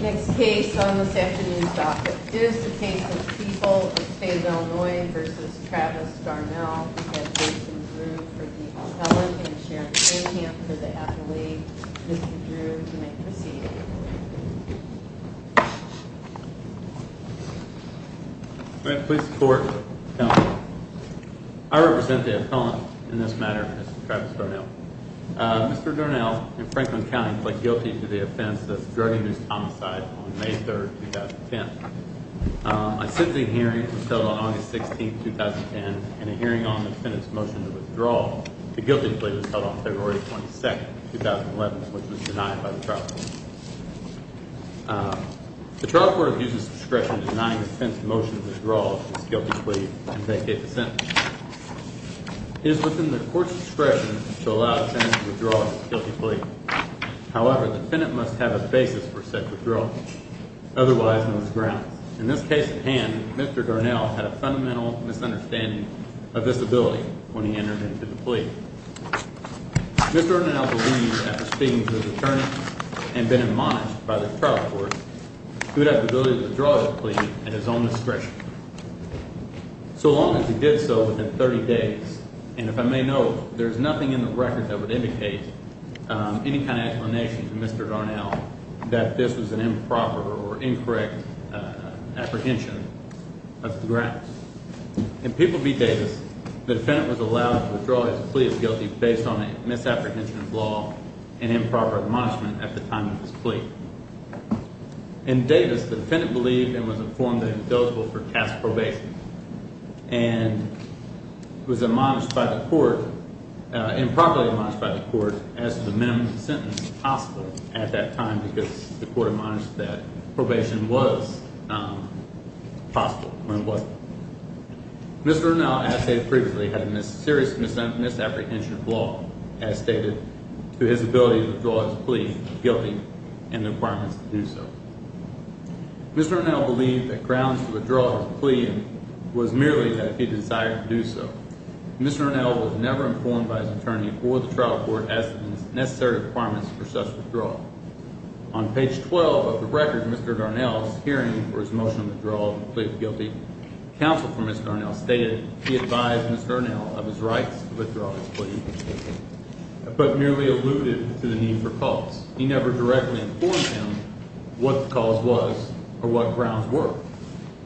Next case on this afternoon's docket is the case of People of Fayetteville, Illinois v. Travis Darnell. We have Jason Drew for the appellant and Sharon Cunningham for the appellate. Mr. Drew, you may proceed. I represent the appellant in this matter, Mr. Travis Darnell. Mr. Darnell, in Franklin County, pled guilty to the offense of drug abuse homicide on May 3, 2010. A sentencing hearing was held on August 16, 2010, and a hearing on the defendant's motion to withdraw the guilty plea was held on February 22, 2011, which was denied by the trial court. The trial court has used its discretion in denying the defendant's motion to withdraw his guilty plea and vacate the sentence. It is within the court's discretion to allow the defendant to withdraw his guilty plea. However, the defendant must have a basis for said withdrawal. Otherwise, no grounds. In this case at hand, Mr. Darnell had a fundamental misunderstanding of this ability when he entered into the plea. Mr. Darnell believed, after speaking to his attorney and being admonished by the trial court, he would have the ability to withdraw his plea at his own discretion. So long as he did so within 30 days, and if I may note, there is nothing in the record that would indicate any kind of explanation to Mr. Darnell that this was an improper or incorrect apprehension of the grounds. In People v. Davis, the defendant was allowed to withdraw his plea of guilty based on a misapprehension of law and improper admonishment at the time of his plea. In Davis, the defendant believed and was informed that he was eligible for task probation and was admonished by the court, improperly admonished by the court, as to the minimum sentence possible at that time because the court admonished that probation was possible when it wasn't. Mr. Darnell, as stated previously, had a serious misapprehension of law, as stated, to his ability to withdraw his plea of guilty and the requirements to do so. Mr. Darnell believed that grounds to withdraw his plea was merely that he desired to do so. Mr. Darnell was never informed by his attorney or the trial court as to the necessary requirements for such withdrawal. On page 12 of the record, Mr. Darnell's hearing for his motion of withdrawal of the plea of guilty, counsel for Mr. Darnell stated he advised Mr. Darnell of his rights to withdraw his plea, but merely alluded to the need for cause. He never directly informed him what the cause was or what grounds were.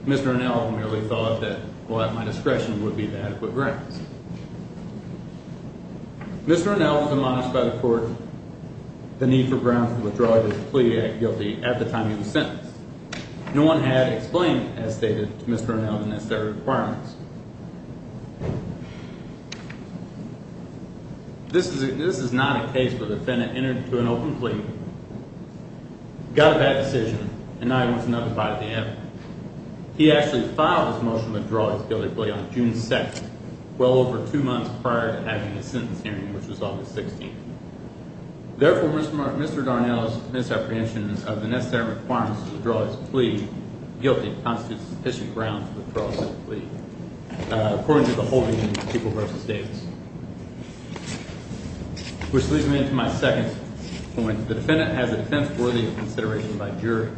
Mr. Darnell merely thought that, well, at my discretion, would be the adequate grounds. Mr. Darnell was admonished by the court the need for grounds to withdraw his plea of guilty at the time he was sentenced. No one had explained, as stated, to Mr. Darnell the necessary requirements. This is not a case where the defendant entered into an open plea, got a bad decision, and now he wants another bite at the end of it. He actually filed his motion to withdraw his guilty plea on June 2nd, well over two months prior to having his sentence hearing, which was August 16th. Therefore, Mr. Darnell's misapprehension of the necessary requirements to withdraw his plea of guilty constitutes sufficient grounds to withdraw such a plea, according to the holding unit, People v. Davis. Which leads me into my second point. The defendant has a defense worthy of consideration by jury.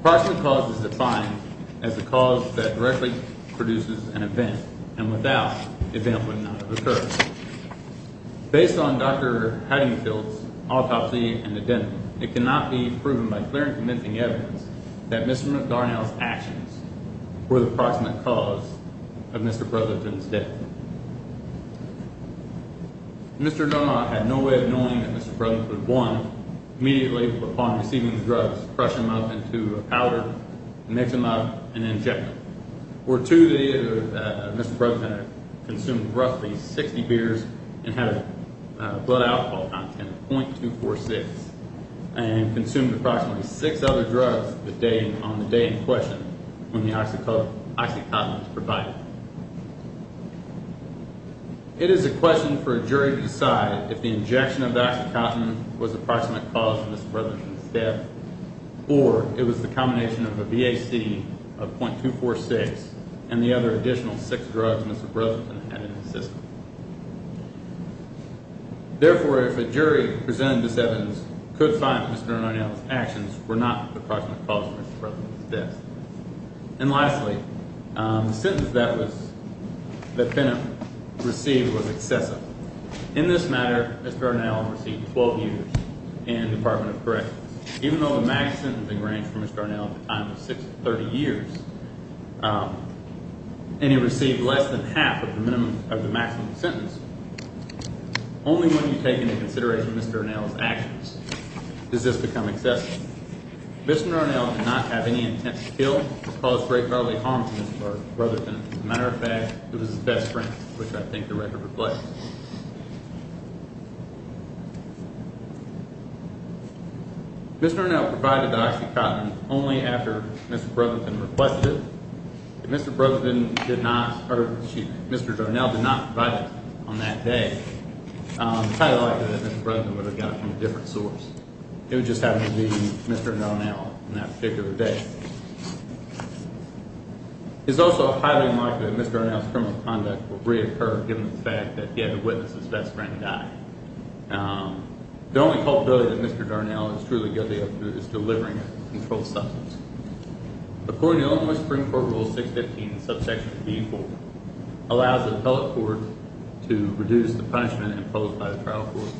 Approximate cause is defined as the cause that directly produces an event, and without the event would not have occurred. Based on Dr. Haddingfield's autopsy and the dental, it cannot be proven by clear and convincing evidence that Mr. Darnell's actions were the approximate cause of Mr. Brotherton's death. Mr. Darnell had no way of knowing that Mr. Brotherton was one. Immediately upon receiving the drugs, crush him up into a powder, mix him up, and inject him. For two days, Mr. Brotherton consumed roughly 60 beers and had a blood alcohol content of 0.246, and consumed approximately six other drugs on the day in question when the OxyContin was provided. It is a question for a jury to decide if the injection of OxyContin was the approximate cause of Mr. Brotherton's death, or it was the combination of a VAC of 0.246 and the other additional six drugs Mr. Brotherton had in his system. Therefore, if a jury presented this evidence, could find that Mr. Darnell's actions were not the approximate cause of Mr. Brotherton's death. And lastly, the sentence that Penham received was excessive. In this matter, Mr. Darnell received 12 years in the Department of Corrections. Even though the max sentencing range for Mr. Darnell at the time was 30 years, and he received less than half of the maximum sentence, only when you take into consideration Mr. Darnell's actions does this become excessive. Mr. Darnell did not have any intent to kill or cause great bodily harm to Mr. Brotherton. As a matter of fact, it was his best friend, which I think the record reflects. Mr. Darnell provided the OxyContin only after Mr. Brotherton requested it. If Mr. Brotherton did not, or if Mr. Darnell did not provide it on that day, it's highly likely that Mr. Brotherton would have gotten it from a different source. It would just happen to be Mr. Darnell on that particular day. It's also highly likely that Mr. Darnell's criminal conduct would reoccur, given the fact that he had to witness his best friend die. The only culpability that Mr. Darnell is truly guilty of is delivering a controlled substance. According to Illinois Supreme Court Rule 615, subsection B4, allows the appellate court to reduce the punishment imposed by the trial court.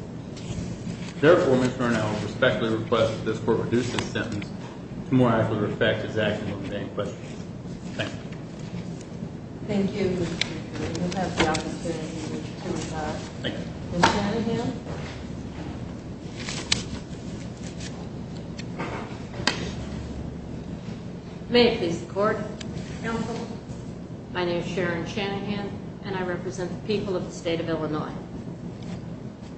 Therefore, Ms. Darnell respectfully requests that this court reduce this sentence. To my actual respect, this action will remain. Thank you. Thank you. You have the opportunity to testify. Thank you. Ms. Shanahan. May it please the court. Counsel. My name is Sharon Shanahan, and I represent the people of the state of Illinois.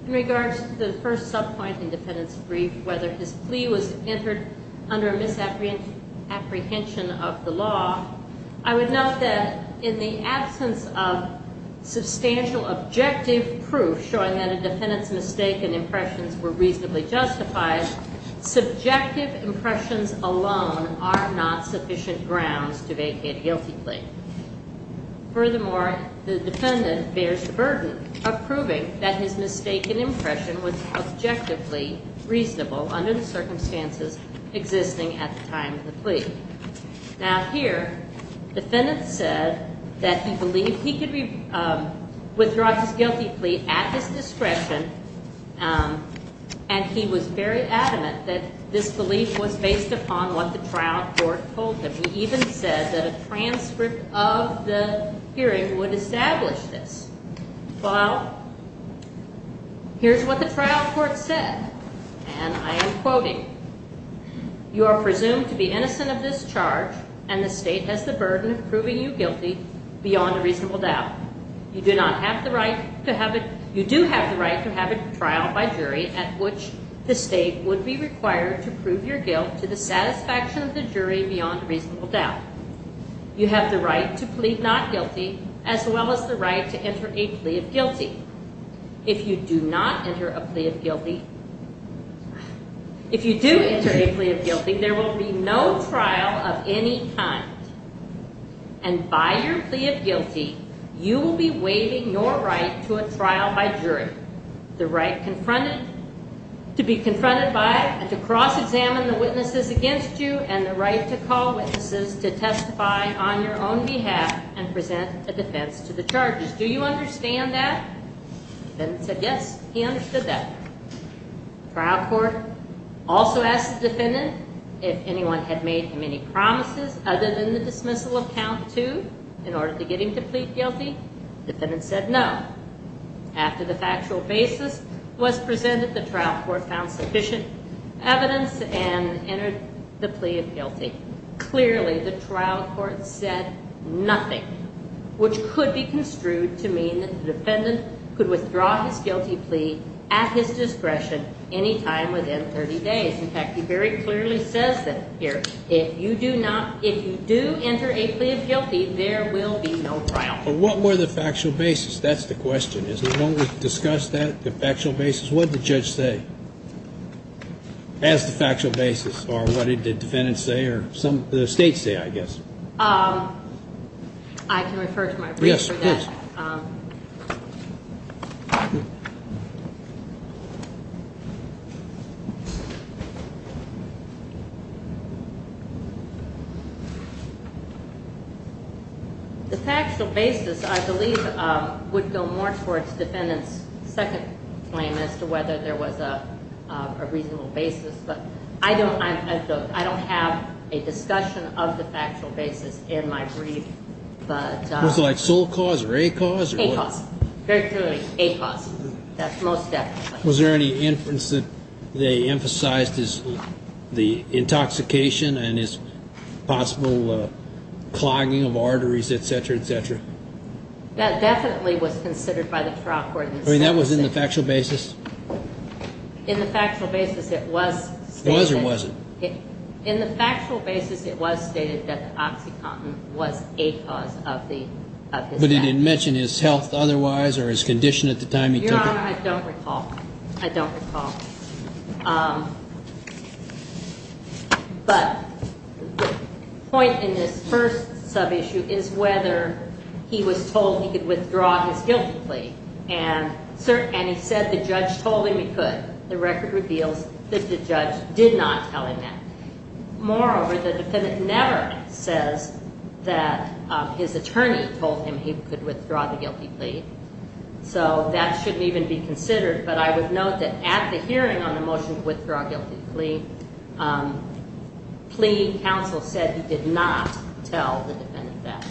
In regards to the first subpoint in the defendant's brief, whether his plea was entered under a misapprehension of the law, I would note that in the absence of substantial objective proof showing that a defendant's mistake and impressions were reasonably justified, subjective impressions alone are not sufficient grounds to vacate a guilty plea. Furthermore, the defendant bears the burden of proving that his mistake and impression was objectively reasonable under the circumstances existing at the time of the plea. Now here, the defendant said that he believed he could withdraw his guilty plea at his discretion, and he was very adamant that this belief was based upon what the trial court told him. He even said that a transcript of the hearing would establish this. Well, here's what the trial court said, and I am quoting. You are presumed to be innocent of this charge, and the state has the burden of proving you guilty beyond a reasonable doubt. You do have the right to have a trial by jury at which the state would be required to prove your guilt to the satisfaction of the jury beyond a reasonable doubt. You have the right to plead not guilty as well as the right to enter a plea of guilty. If you do enter a plea of guilty, there will be no trial of any kind, and by your plea of guilty, you will be waiving your right to a trial by jury, the right to be confronted by and to cross-examine the witnesses against you, and the right to call witnesses to testify on your own behalf and present a defense to the charges. Do you understand that? The defendant said yes, he understood that. The trial court also asked the defendant if anyone had made him any promises other than the dismissal of count two in order to get him to plead guilty. The defendant said no. After the factual basis was presented, the trial court found sufficient evidence and entered the plea of guilty. Clearly, the trial court said nothing, which could be construed to mean that the defendant could withdraw his guilty plea at his discretion any time within 30 days. In fact, he very clearly says that here. If you do enter a plea of guilty, there will be no trial. But what were the factual basis? That's the question. As long as we discuss that, the factual basis, what did the judge say as the factual basis? Or what did the defendant say or the state say, I guess? I can refer to my brief for that. Yes, of course. The factual basis, I believe, would go more towards the defendant's second claim as to whether there was a reasonable basis. But I don't have a discussion of the factual basis in my brief. Was it like sole cause or a cause? A cause. Very clearly, a cause. That's most definitely. Was there any inference that they emphasized the intoxication and his possible clogging of arteries, et cetera, et cetera? That definitely was considered by the trial court. I mean, that was in the factual basis? In the factual basis, it was stated that the OxyContin was a cause of his death. But he didn't mention his health otherwise or his condition at the time he took it? Your Honor, I don't recall. I don't recall. But the point in this first sub-issue is whether he was told he could withdraw his guilty plea. And he said the judge told him he could. The record reveals that the judge did not tell him that. Moreover, the defendant never says that his attorney told him he could withdraw the guilty plea. So that shouldn't even be considered. But I would note that at the hearing on the motion to withdraw guilty plea, plea counsel said he did not tell the defendant that.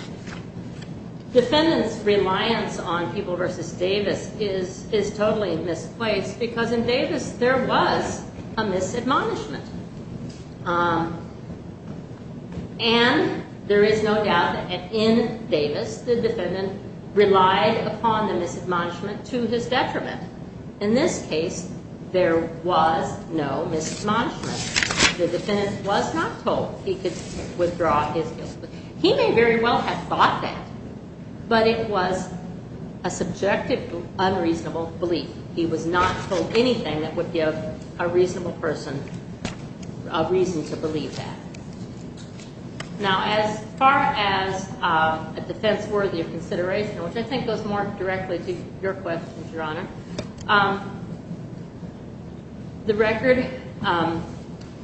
Defendant's reliance on Peeble v. Davis is totally misplaced because in Davis there was a misadmonishment. And there is no doubt that in Davis the defendant relied upon the misadmonishment to his detriment. In this case, there was no misadmonishment. The defendant was not told he could withdraw his guilty plea. He may very well have thought that, but it was a subjective unreasonable belief. He was not told anything that would give a reasonable person a reason to believe that. Now, as far as a defense worthy of consideration, which I think goes more directly to your question, Your Honor, the record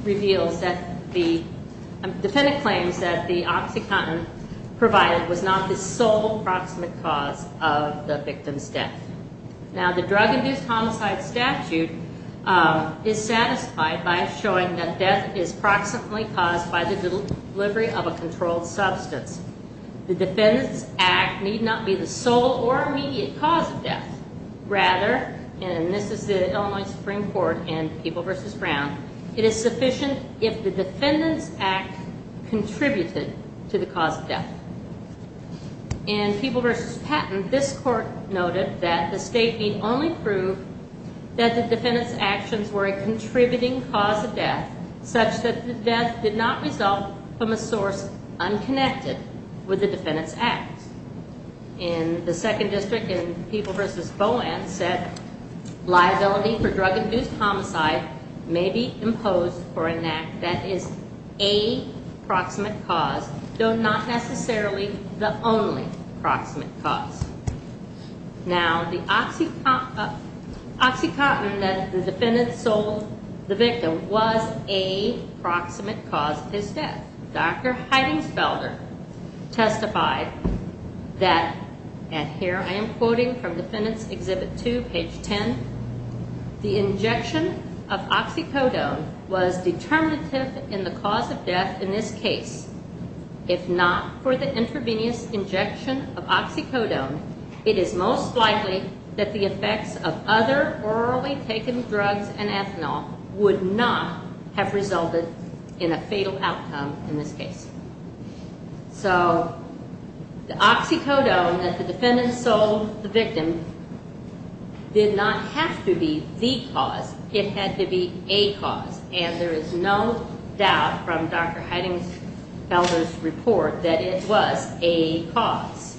reveals that the defendant claims that the OxyContin provided was not the sole proximate cause of the victim's death. Now, the drug-induced homicide statute is satisfied by showing that death is proximately caused by the delivery of a controlled substance. The Defendant's Act need not be the sole or immediate cause of death. Rather, and this is the Illinois Supreme Court in Peeble v. Brown, it is sufficient if the Defendant's Act contributed to the cause of death. In Peeble v. Patton, this court noted that the state need only prove that the defendant's actions were a contributing cause of death, such that the death did not result from a source unconnected with the Defendant's Act. In the Second District in Peeble v. Boland, said liability for drug-induced homicide may be imposed for an act that is a proximate cause, though not necessarily the only proximate cause. Now, the OxyContin that the Defendant sold the victim was a proximate cause of his death. Dr. Heidings Felder testified that, and here I am quoting from Defendant's Exhibit 2, page 10, the injection of oxycodone was determinative in the cause of death in this case. If not for the intravenous injection of oxycodone, it is most likely that the effects of other orally taken drugs and ethanol would not have resulted in a fatal outcome in this case. So, the oxycodone that the Defendant sold the victim did not have to be the cause. It had to be a cause, and there is no doubt from Dr. Heidings Felder's report that it was a cause.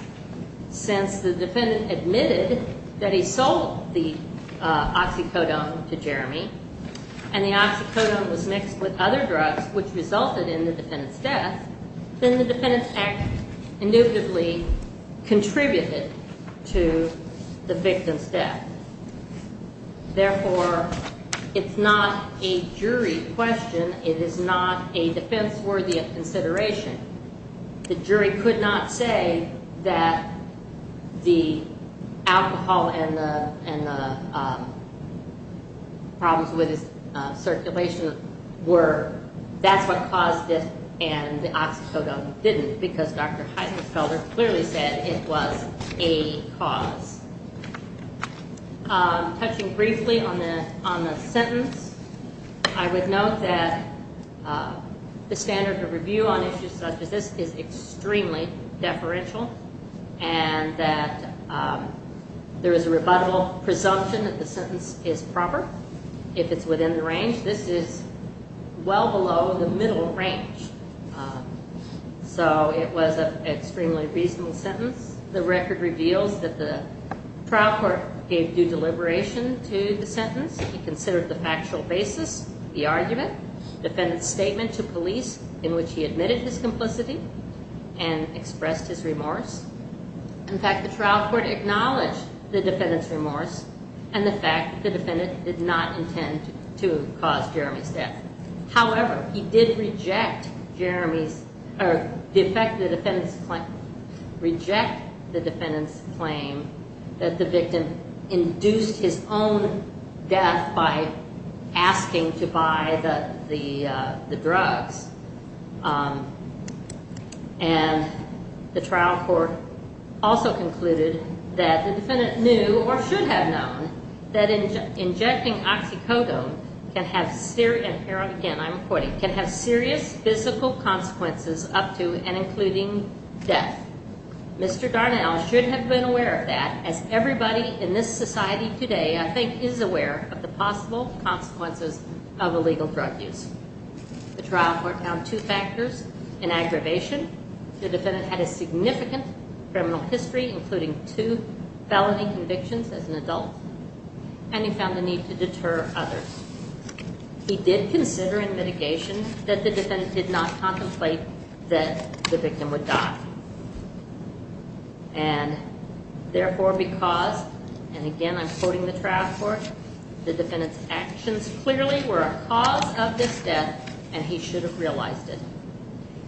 Since the Defendant admitted that he sold the oxycodone to Jeremy, and the oxycodone was mixed with other drugs which resulted in the Defendant's death, then the Defendant's act indubitably contributed to the victim's death. Therefore, it's not a jury question. It is not a defense worthy of consideration. The jury could not say that the alcohol and the problems with its circulation were, that's what caused it and the oxycodone didn't, because Dr. Heidings Felder clearly said it was a cause. Touching briefly on the sentence, I would note that the standard of review on issues such as this is extremely deferential and that there is a rebuttable presumption that the sentence is proper. If it's within the range, this is well below the middle range. So it was an extremely reasonable sentence. The record reveals that the trial court gave due deliberation to the sentence. It considered the factual basis, the argument, the Defendant's statement to police in which he admitted his complicity and expressed his remorse. In fact, the trial court acknowledged the Defendant's remorse and the fact that the Defendant did not intend to cause Jeremy's death. However, he did reject Jeremy's, or defect the Defendant's claim, reject the Defendant's claim that the victim induced his own death by asking to buy the drugs. And the trial court also concluded that the Defendant knew or should have known that injecting oxycodone can have serious physical consequences up to and including death. Mr. Darnell should have been aware of that as everybody in this society today, I think, is aware of the possible consequences of illegal drug use. The trial court found two factors in aggravation. The Defendant had a significant criminal history including two felony convictions as an adult and he found the need to deter others. He did consider in mitigation that the Defendant did not contemplate that the victim would die. And therefore because, and again I'm quoting the trial court, the Defendant's actions clearly were a cause of this death and he should have realized it.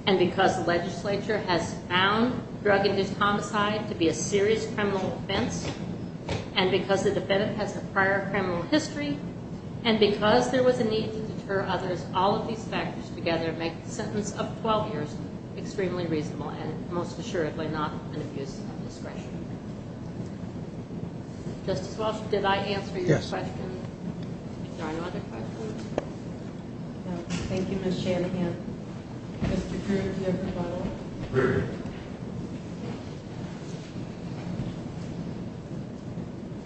And because the legislature has found drug-induced homicide to be a serious criminal offense and because the Defendant has a prior criminal history and because there was a need to deter others, all of these factors together make the sentence of 12 years extremely reasonable and most assuredly not an abuse of discretion. Justice Walsh, did I answer your question? Yes. Are there any other questions? No. Thank you, Ms. Shanahan. Mr. Kruger, do you have a follow-up? Kruger.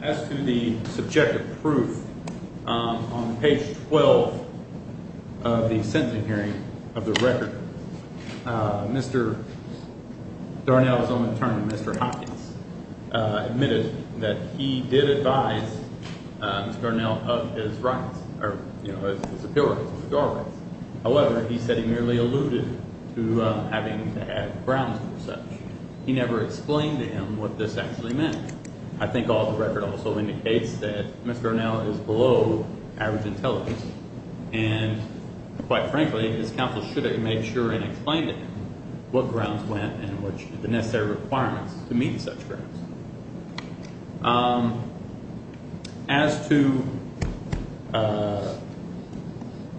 As to the subjective proof on page 12 of the sentencing hearing of the record, Mr. Darnell's own attorney, Mr. Hopkins, admitted that he did advise Mr. Darnell of his rights, his appeal rights, his withdrawal rights. However, he said he merely alluded to having to have grounds for such. He never explained to him what this actually meant. I think all of the record also indicates that Mr. Darnell is below average intelligence and quite frankly his counsel should have made sure and explained to him what grounds went and the necessary requirements to meet such grounds. As to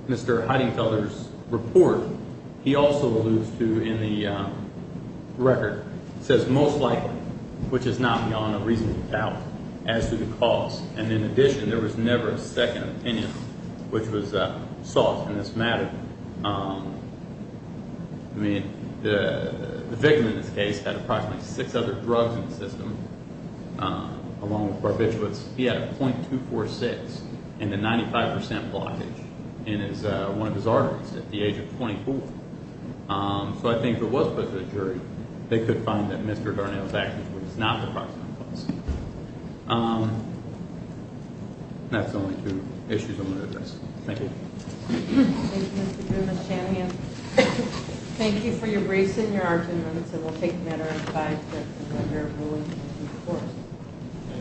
Mr. Heidinkeller's report, he also alludes to, in the record, says most likely, which is not beyond a reasonable doubt, as to the cause. And in addition, there was never a second opinion which was sought in this matter. I mean, the victim in this case had approximately six other drugs in the system, along with barbiturates. He had a .246 and a 95% blockage in one of his arteries at the age of 24. So I think if it was put to the jury, they could find that Mr. Darnell's actions were just not the proximate cause. That's the only two issues I'm going to address. Thank you. Thank you, Mr. Grimm and Ms. Shanahan. Thank you for your briefs and your arguments, and we'll take a matter in five minutes.